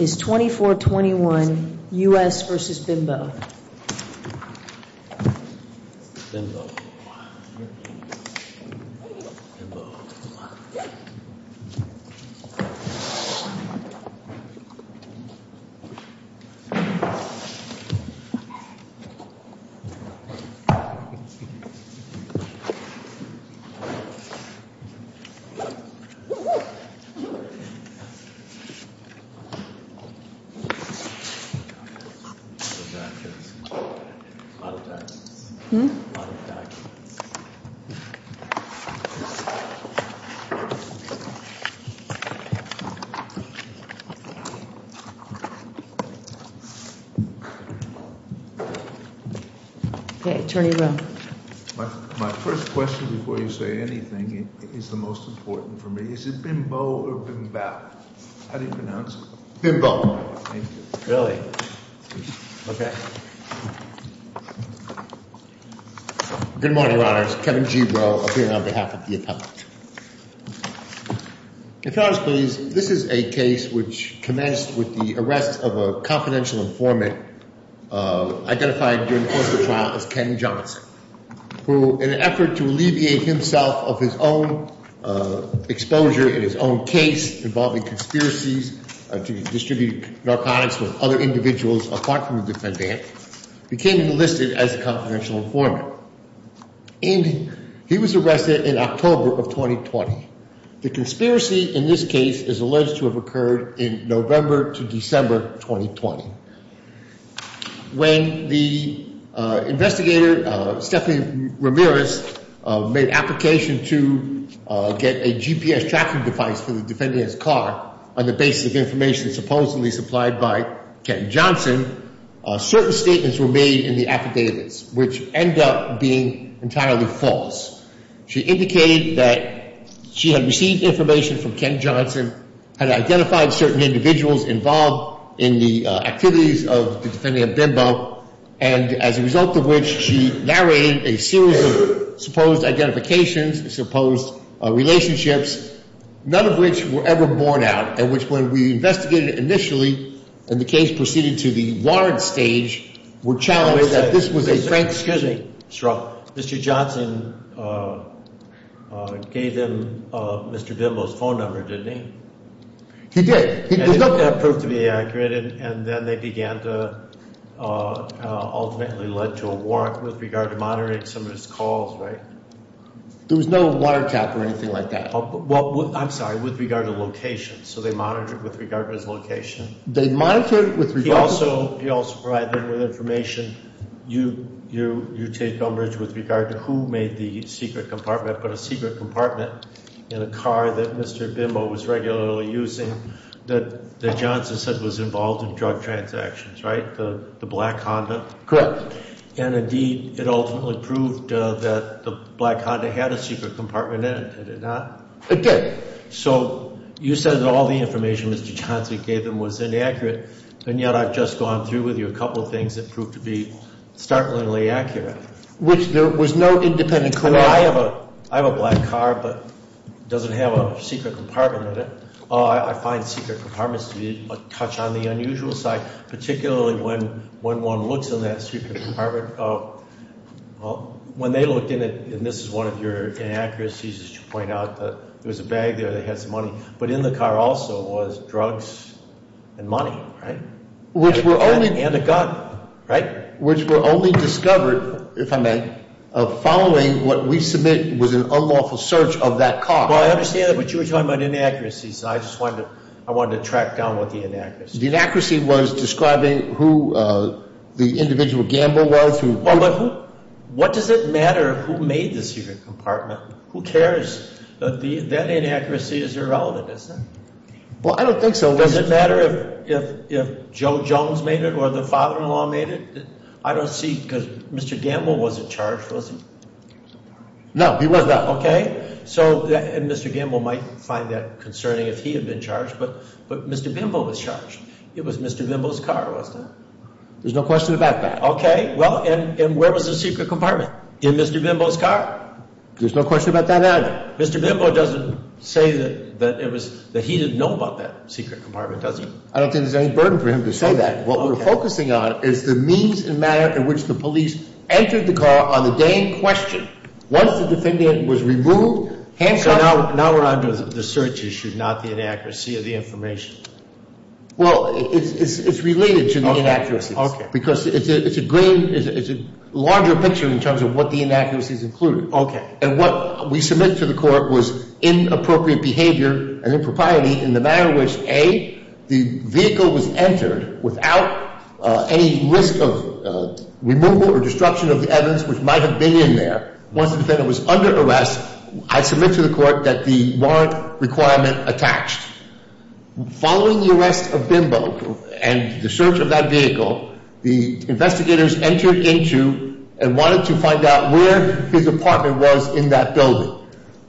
is 24-21 U.S. v. Bimbow My first question before you say anything is the most important for me. Is it Bimbo or Bimbao? How do you pronounce it? Bimbo. Really? Okay. Good morning, Your Honors. Kevin G. Rowe, appearing on behalf of the appellate. If you'll notice, please, this is a case which commenced with the arrest of a confidential informant identified during the course of the trial as Ken Johnson, who, in an effort to alleviate himself of his own exposure in his own case involving conspiracies to distribute narcotics with other individuals, apart from the defendant, became enlisted as a confidential informant. And he was arrested in October of 2020. The conspiracy in this case is alleged to have occurred in November to December 2020. When the investigator, Stephanie Ramirez, made an application to get a GPS tracking device for the defendant's car on the basis of information supposedly supplied by Ken Johnson, certain statements were made in the affidavits, which end up being entirely false. She indicated that she had received information from Ken Johnson, had identified certain individuals involved in the activities of the defendant, Bimbo, and as a result of which she narrated a series of supposed identifications, supposed relationships, none of which were ever borne out, and which, when we investigated initially, and the case proceeded to the ward stage, were challenged that this was a Frank Skidding struggle. Mr. Johnson gave them Mr. Bimbo's phone number, didn't he? He did. He looked at it. And it proved to be inaccurate, and then they began to ultimately lead to a warrant with regard to monitoring some of his calls, right? There was no water tap or anything like that. Well, I'm sorry, with regard to location. So they monitored with regard to his location. They monitored with regard to his location. He also provided them with information, you take umbrage with regard to who made the secret compartment, but a secret compartment in a car that Mr. Bimbo was regularly using that Johnson said was involved in drug transactions, right? The black Honda? Correct. And indeed, it ultimately proved that the black Honda had a secret compartment in it, did it not? It did. So you said that all the information Mr. Johnson gave them was inaccurate, and yet I've just gone through with you a couple of things that proved to be startlingly accurate. Which there was no independent claim. I have a black car, but it doesn't have a secret compartment in it. I find secret compartments to be a touch on the unusual side, particularly when one looks in that secret compartment. When they looked in it, and this is one of your inaccuracies, as you point out, there was a bag there that had some money, but in the car also was drugs and money, right? And a gun, right? Which were only discovered, if I may, following what we submit was an unlawful search of that car. Well, I understand that, but you were talking about inaccuracies, and I just wanted to track down what the inaccuracies were. The inaccuracy was describing who the individual Gamble was. Well, but what does it matter who made the secret compartment? Who cares? That inaccuracy is irrelevant, isn't it? Well, I don't think so. Does it matter if Joe Jones made it or the father-in-law made it? I don't see, because Mr. Gamble wasn't charged, was he? No, he was not. Okay. And Mr. Gamble might find that concerning if he had been charged, but Mr. Bimbo was charged. It was Mr. Bimbo's car, wasn't it? There's no question about that. Okay. Well, and where was the secret compartment? In Mr. Bimbo's car. There's no question about that either. Mr. Bimbo doesn't say that he didn't know about that secret compartment, does he? I don't think there's any burden for him to say that. What we're focusing on is the means and manner in which the police entered the car on the day in question. Once the defendant was removed, handcuffed. So now we're on to the search issue, not the inaccuracy of the information. Well, it's related to the inaccuracies. Okay. Because it's a larger picture in terms of what the inaccuracies include. Okay. And what we submit to the court was inappropriate behavior and impropriety in the manner in which, A, the vehicle was entered without any risk of removal or destruction of the evidence which might have been in there. Once the defendant was under arrest, I submit to the court that the warrant requirement attached. Following the arrest of Bimbo and the search of that vehicle, the investigators entered into and wanted to find out where his apartment was in that building.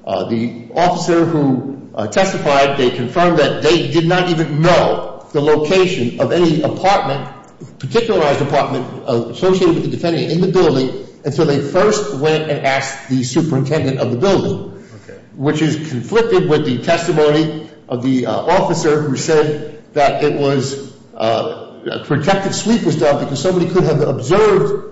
The officer who testified, they confirmed that they did not even know the location of any apartment, a particularized apartment associated with the defendant in the building, until they first went and asked the superintendent of the building. Okay. Which is conflicted with the testimony of the officer who said that it was a protective sweep was done because somebody could have observed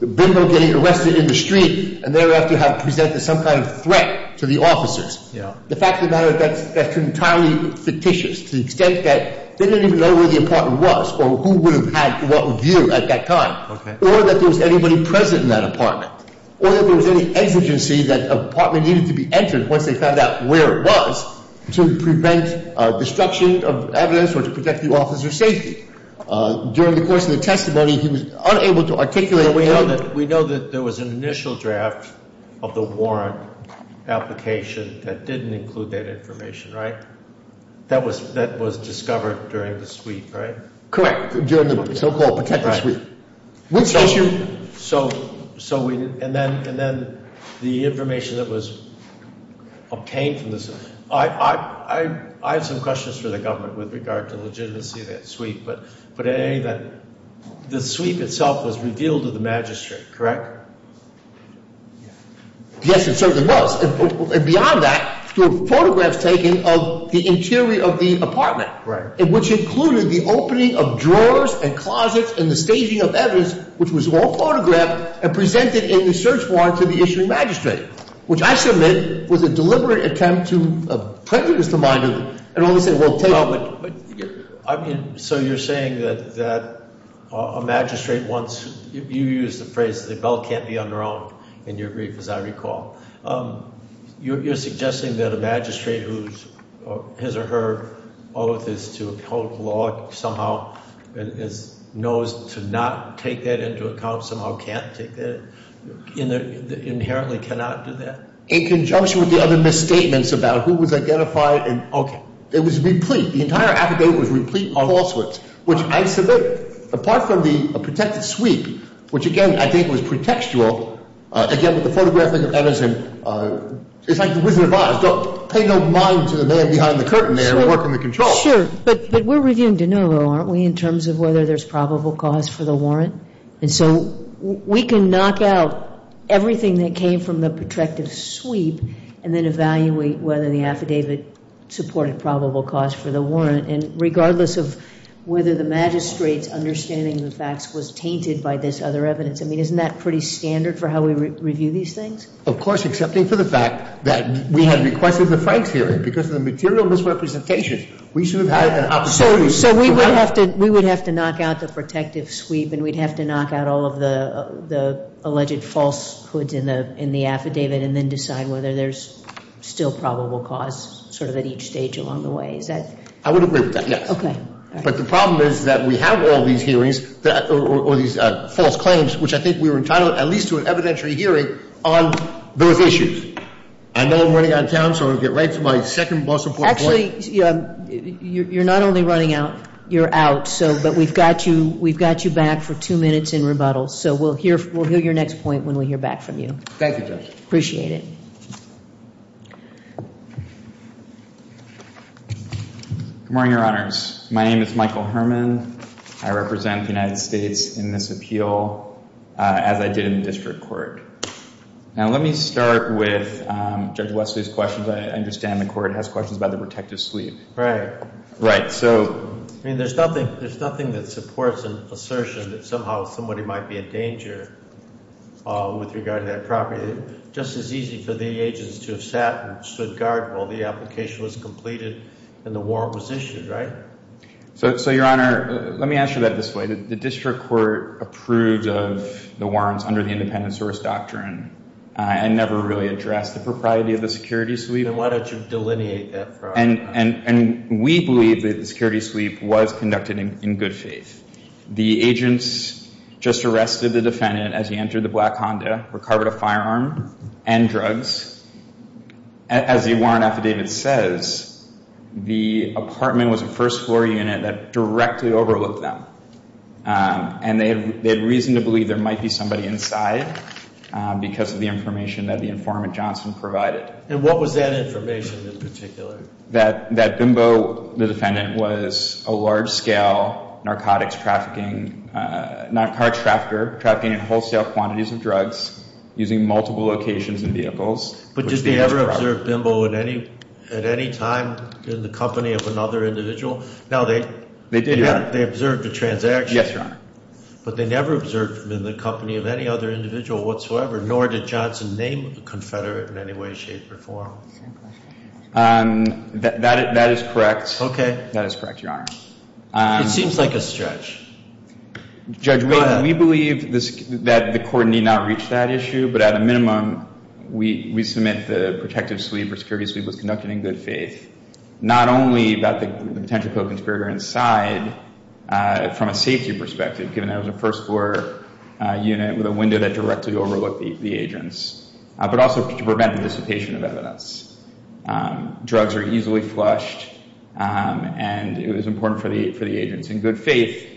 Bimbo getting arrested in the street and thereafter have presented some kind of threat to the officers. Yeah. The fact of the matter is that's entirely fictitious to the extent that they didn't even know where the apartment was or who would have had what view at that time. Okay. Or that there was anybody present in that apartment. Or that there was any exigency that an apartment needed to be entered once they found out where it was to prevent destruction of evidence or to protect the officer's safety. During the course of the testimony, he was unable to articulate that. So we know that there was an initial draft of the warrant application that didn't include that information, right? That was discovered during the sweep, right? Correct. During the so-called protective sweep. Which issue? So, and then the information that was obtained from this. I have some questions for the government with regard to the legitimacy of that sweep. The sweep itself was revealed to the magistrate, correct? Yes, it certainly was. And beyond that, there were photographs taken of the interior of the apartment. Right. Which included the opening of drawers and closets and the staging of evidence, which was all photographed and presented in the search warrant to the issuing magistrate. Which I submit was a deliberate attempt to prejudice the mind of the. I mean, so you're saying that a magistrate wants, you used the phrase, the bell can't be unrung in your brief, as I recall. You're suggesting that a magistrate whose his or her oath is to uphold the law somehow knows to not take that into account, somehow can't take that, inherently cannot do that? In conjunction with the other misstatements about who was identified. It was replete. The entire affidavit was replete of falsehoods, which I submit, apart from the protective sweep, which again I think was pretextual, again with the photographing of evidence. It's like the Wizard of Oz. Don't pay no mind to the man behind the curtain there working the controls. Sure. But we're reviewing de novo, aren't we, in terms of whether there's probable cause for the warrant? And so we can knock out everything that came from the protective sweep and then evaluate whether the affidavit supported probable cause for the warrant. And regardless of whether the magistrate's understanding of the facts was tainted by this other evidence, I mean, isn't that pretty standard for how we review these things? Of course, excepting for the fact that we had requested the Franks hearing. Because of the material misrepresentation, we should have had an opportunity. So we would have to knock out the protective sweep and we'd have to knock out all of the alleged falsehoods in the affidavit and then decide whether there's still probable cause sort of at each stage along the way. Is that? I would agree with that, yes. Okay. But the problem is that we have all these hearings or these false claims, which I think we were entitled at least to an evidentiary hearing on those issues. I know I'm running out of time, so I'll get right to my second boss report point. You're not only running out, you're out. But we've got you back for two minutes in rebuttal, so we'll hear your next point when we hear back from you. Thank you, Judge. Appreciate it. Good morning, Your Honors. My name is Michael Herman. I represent the United States in this appeal, as I did in the district court. Now, let me start with Judge Wesley's questions. I understand the court has questions about the protective sleeve. Right. I mean, there's nothing that supports an assertion that somehow somebody might be in danger with regard to that property. It's just as easy for the agents to have sat and stood guard while the application was completed and the warrant was issued, right? So, Your Honor, let me answer that this way. The district court approved of the warrants under the independent source doctrine and never really addressed the propriety of the security sleeve. Then why don't you delineate that for us? And we believe that the security sleeve was conducted in good faith. The agents just arrested the defendant as he entered the black Honda, recovered a firearm and drugs. As the warrant affidavit says, the apartment was a first-floor unit that directly overlooked them. And they had reason to believe there might be somebody inside because of the information that the informant Johnson provided. And what was that information in particular? That Bimbo, the defendant, was a large-scale narcotics trafficking, narcotics trafficker, trafficking in wholesale quantities of drugs using multiple locations and vehicles. But did they ever observe Bimbo at any time in the company of another individual? No, they did, Your Honor. They observed a transaction. Yes, Your Honor. But they never observed Bimbo in the company of any other individual whatsoever, nor did Johnson name a confederate in any way, shape, or form. That is correct. Okay. That is correct, Your Honor. It seems like a stretch. Judge, we believe that the court need not reach that issue, but at a minimum we submit the protective sleeve or security sleeve was conducted in good faith, not only about the potential co-conspirator inside from a safety perspective, given that it was a first-floor unit with a window that directly overlooked the agents, but also to prevent the dissipation of evidence. Drugs are easily flushed, and it was important for the agents in good faith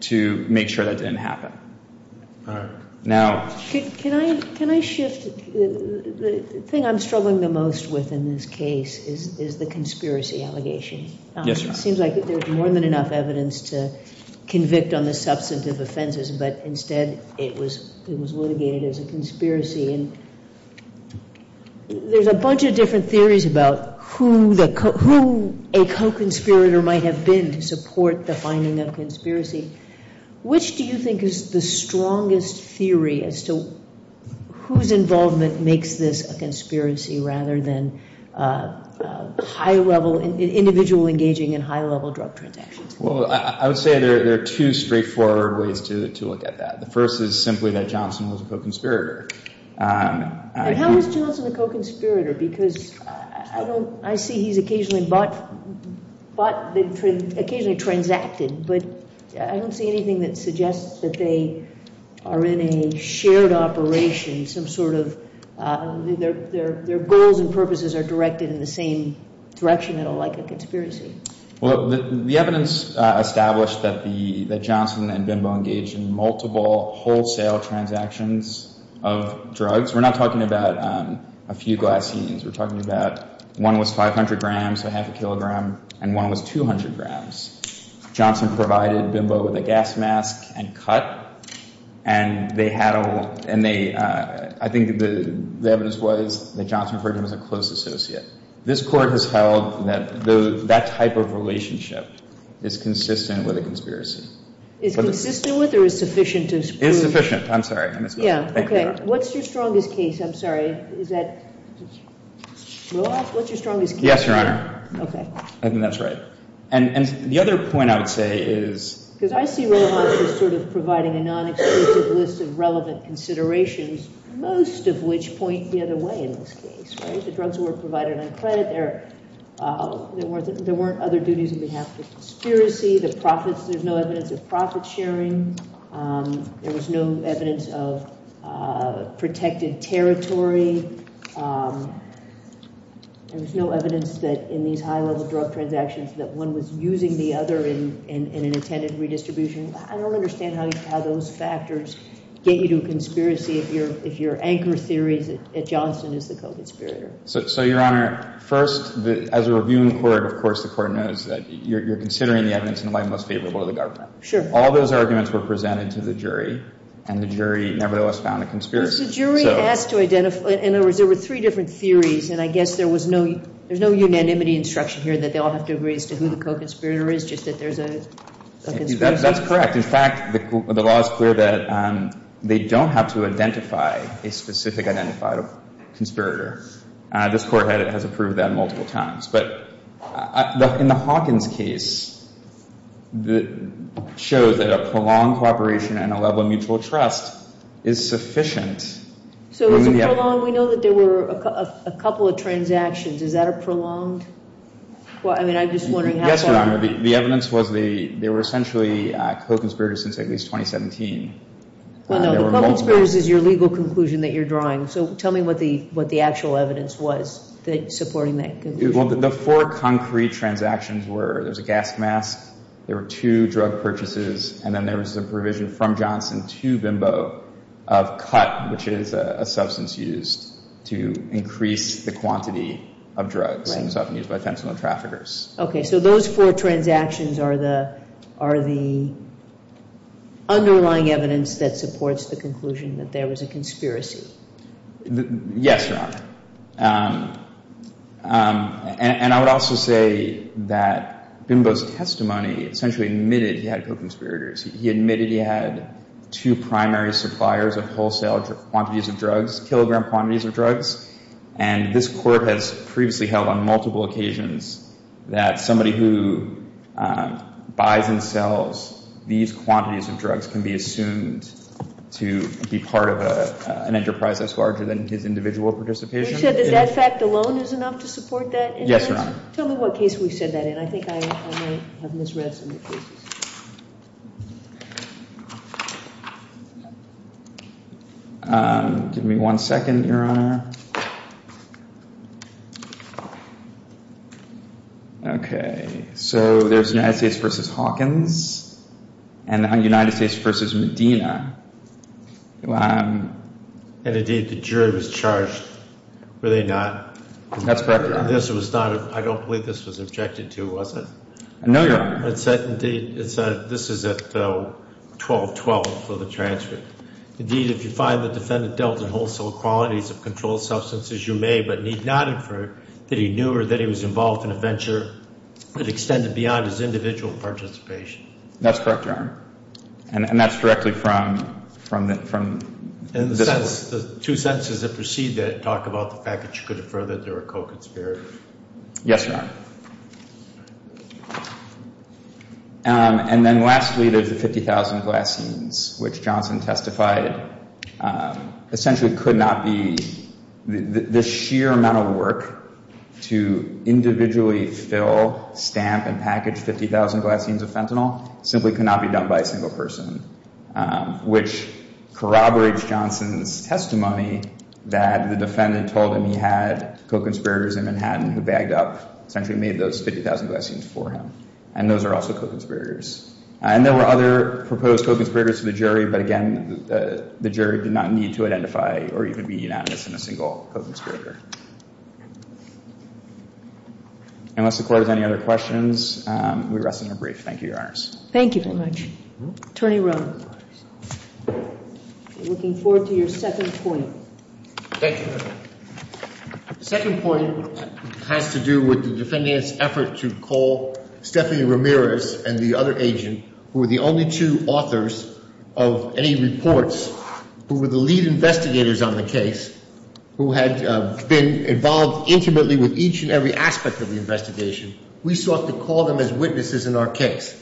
to make sure that didn't happen. All right. Can I shift? The thing I'm struggling the most with in this case is the conspiracy allegation. Yes, Your Honor. It seems like there's more than enough evidence to convict on the substantive offenses, but instead it was litigated as a conspiracy. There's a bunch of different theories about who a co-conspirator might have been to support the finding of conspiracy. Which do you think is the strongest theory as to whose involvement makes this a conspiracy rather than individual engaging in high-level drug transactions? I would say there are two straightforward ways to look at that. The first is simply that Johnson was a co-conspirator. How is Johnson a co-conspirator? I see he's occasionally transacted, but I don't see anything that suggests that they are in a shared operation. Their goals and purposes are directed in the same direction, like a conspiracy. The evidence established that Johnson and Bimbo engaged in multiple wholesale transactions of drugs. We're not talking about a few glycines. We're talking about one was 500 grams, so half a kilogram, and one was 200 grams. Johnson provided Bimbo with a gas mask and cut, and I think the evidence was that Johnson was a close associate. This Court has held that that type of relationship is consistent with a conspiracy. Is consistent with or is sufficient to prove? It is sufficient. I'm sorry. Yeah, okay. What's your strongest case? I'm sorry. Is that Rojas? What's your strongest case? Yes, Your Honor. Okay. I think that's right. And the other point I would say is— Because I see Rojas as sort of providing a non-exclusive list of relevant considerations, most of which point the other way in this case, right? The drugs were provided on credit. There weren't other duties on behalf of conspiracy. There's no evidence of profit-sharing. There was no evidence of protected territory. There was no evidence that in these high-level drug transactions that one was using the other in an intended redistribution. I don't understand how those factors get you to a conspiracy if your anchor theory is that Johnson is the co-conspirator. So, Your Honor, first, as a reviewing court, of course, the court knows that you're considering the evidence in the light most favorable to the government. Sure. All those arguments were presented to the jury, and the jury nevertheless found a conspirator. Because the jury asked to identify— In other words, there were three different theories, and I guess there was no—there's no unanimity instruction here that they all have to agree as to who the co-conspirator is, just that there's a conspiracy. That's correct. In fact, the law is clear that they don't have to identify a specific identified conspirator. This Court has approved that multiple times. But in the Hawkins case, it shows that a prolonged cooperation and a level of mutual trust is sufficient. So is it prolonged? We know that there were a couple of transactions. Is that a prolonged—I mean, I'm just wondering how far— Yes, Your Honor. The evidence was they were essentially co-conspirators since at least 2017. Well, no, the co-conspirators is your legal conclusion that you're drawing. So tell me what the actual evidence was supporting that conclusion. Well, the four concrete transactions were there was a gas mask, there were two drug purchases, and then there was a provision from Johnson to Bimbo of cut, which is a substance used to increase the quantity of drugs. It was often used by fentanyl traffickers. Okay, so those four transactions are the underlying evidence that supports the conclusion that there was a conspiracy. Yes, Your Honor. And I would also say that Bimbo's testimony essentially admitted he had co-conspirators. He admitted he had two primary suppliers of wholesale quantities of drugs, kilogram quantities of drugs. And this Court has previously held on multiple occasions that somebody who buys and sells these quantities of drugs can be assumed to be part of an enterprise that's larger than his individual participation. You said that that fact alone is enough to support that? Yes, Your Honor. Tell me what case we said that in. I think I might have misread some of the cases. Give me one second, Your Honor. Okay, so there's United States v. Hawkins and United States v. Medina. And, indeed, the jury was charged, were they not? That's correct, Your Honor. I don't believe this was objected to, was it? No, Your Honor. This is at 1212 for the transcript. Indeed, if you find the defendant dealt in wholesale qualities of controlled substances, you may but need not infer that he knew or that he was involved in a venture that extended beyond his individual participation. That's correct, Your Honor. And that's directly from this Court. And the two sentences that precede that talk about the fact that you could infer that they were co-conspirators. Yes, Your Honor. And then, lastly, there's the 50,000 Glassenes, which Johnson testified essentially could not be, the sheer amount of work to individually fill, stamp, and package 50,000 Glassenes of fentanyl simply could not be done by a single person, which corroborates Johnson's testimony that the defendant told him he had co-conspirators in Manhattan who bagged up, essentially made those 50,000 Glassenes for him. And those are also co-conspirators. And there were other proposed co-conspirators to the jury, but, again, the jury did not need to identify or even be unanimous in a single co-conspirator. Unless the Court has any other questions, we rest in our brief. Thank you, Your Honors. Thank you very much. Attorney Rohn. I'm looking forward to your second point. Thank you, Your Honor. The second point has to do with the defendant's effort to call Stephanie Ramirez and the other agent, who were the only two authors of any reports, who were the lead investigators on the case, who had been involved intimately with each and every aspect of the investigation. We sought to call them as witnesses in our case.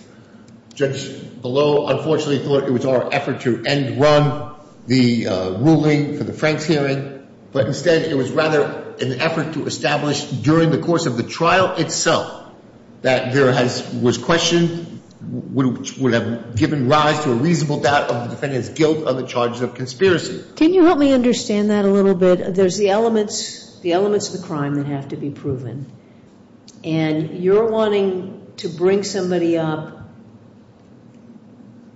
Judge Bellow, unfortunately, thought it was our effort to end-run the ruling for the Franks hearing, but instead it was rather an effort to establish during the course of the trial itself that there was question which would have given rise to a reasonable doubt of the defendant's guilt on the charges of conspiracy. Can you help me understand that a little bit? There's the elements of the crime that have to be proven, and you're wanting to bring somebody up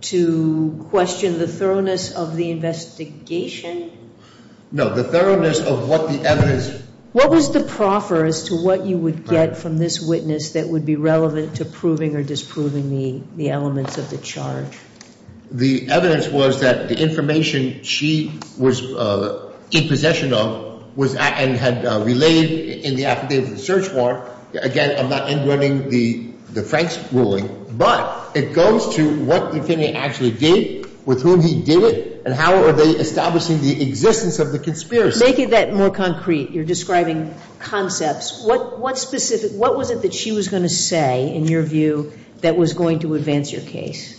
to question the thoroughness of the investigation? No, the thoroughness of what the evidence. What was the proffer as to what you would get from this witness that would be relevant to proving or disproving the elements of the charge? The evidence was that the information she was in possession of and had relayed in the affidavit of the search warrant, again, I'm not end-running the Franks ruling, but it goes to what the defendant actually did, with whom he did it, and how are they establishing the existence of the conspiracy? Making that more concrete, you're describing concepts. What specific, what was it that she was going to say, in your view, that was going to advance your case?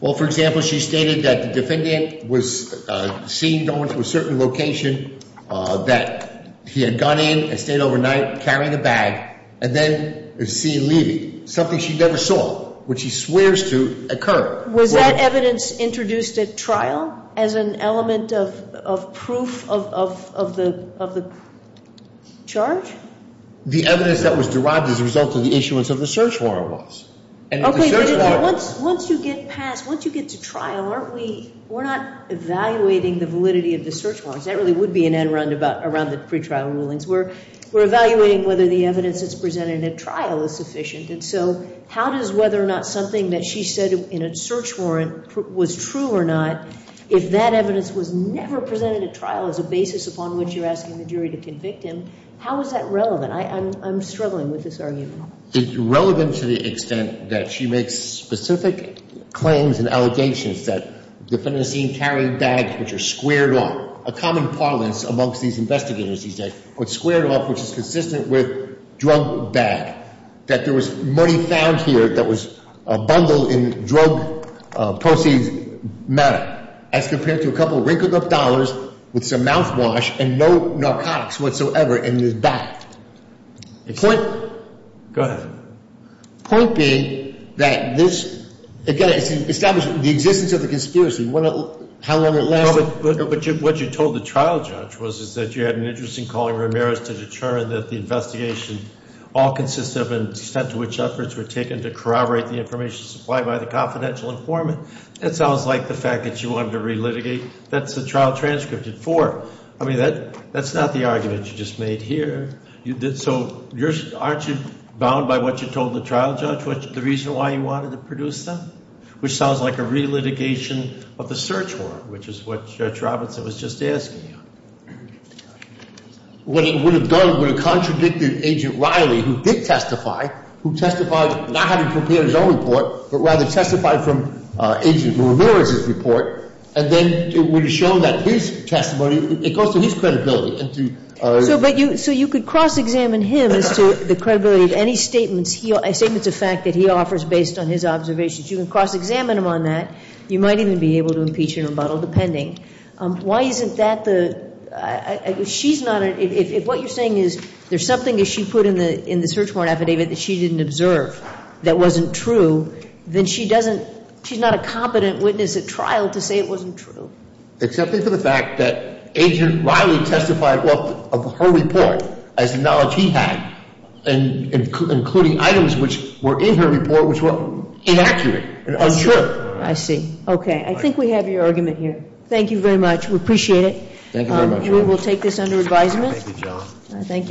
Well, for example, she stated that the defendant was seen going to a certain location, that he had gone in and stayed overnight, carrying a bag, and then is seen leaving, something she never saw, which he swears to occur. Was that evidence introduced at trial as an element of proof of the charge? The evidence that was derived as a result of the issuance of the search warrant was. Okay, but once you get past, once you get to trial, aren't we, we're not evaluating the validity of the search warrant. That really would be an end-run around the pretrial rulings. We're evaluating whether the evidence that's presented at trial is sufficient, and so how does whether or not something that she said in a search warrant was true or not, if that evidence was never presented at trial as a basis upon which you're asking the jury to convict him, how is that relevant? I'm struggling with this argument. It's relevant to the extent that she makes specific claims and allegations that the defendant is seen carrying bags which are squared off. A common parlance amongst these investigators these days, which is consistent with drug bag, that there was money found here that was bundled in drug proceeds matter, as compared to a couple of rink-a-gook dollars with some mouthwash and no narcotics whatsoever in his bag. Go ahead. The point being that this, again, it's establishing the existence of the conspiracy, how long it lasted. What you told the trial judge was that you had an interest in calling Ramirez to determine that the investigation all consisted of an extent to which efforts were taken to corroborate the information supplied by the confidential informant. That sounds like the fact that you wanted to relitigate. That's the trial transcripted for. I mean, that's not the argument you just made here. So aren't you bound by what you told the trial judge, the reason why you wanted to produce them? Which sounds like a relitigation of the search warrant, which is what Judge Robinson was just asking you. What it would have done would have contradicted Agent Riley, who did testify, who testified not having prepared his own report, but rather testified from Agent Ramirez's report, and then it would have shown that his testimony, it goes to his credibility. So you could cross-examine him as to the credibility of any statements, statements of fact that he offers based on his observations. You can cross-examine him on that. You might even be able to impeach him or muddle, depending. Why isn't that the ‑‑ if what you're saying is there's something that she put in the search warrant affidavit that she didn't observe that wasn't true, then she's not a competent witness at trial to say it wasn't true. Except for the fact that Agent Riley testified of her report as knowledge he had, including items which were in her report which were inaccurate and unsure. I see. Okay. I think we have your argument here. Thank you very much. We appreciate it. Thank you very much. We will take this under advisement. Thank you, John. Thank you both.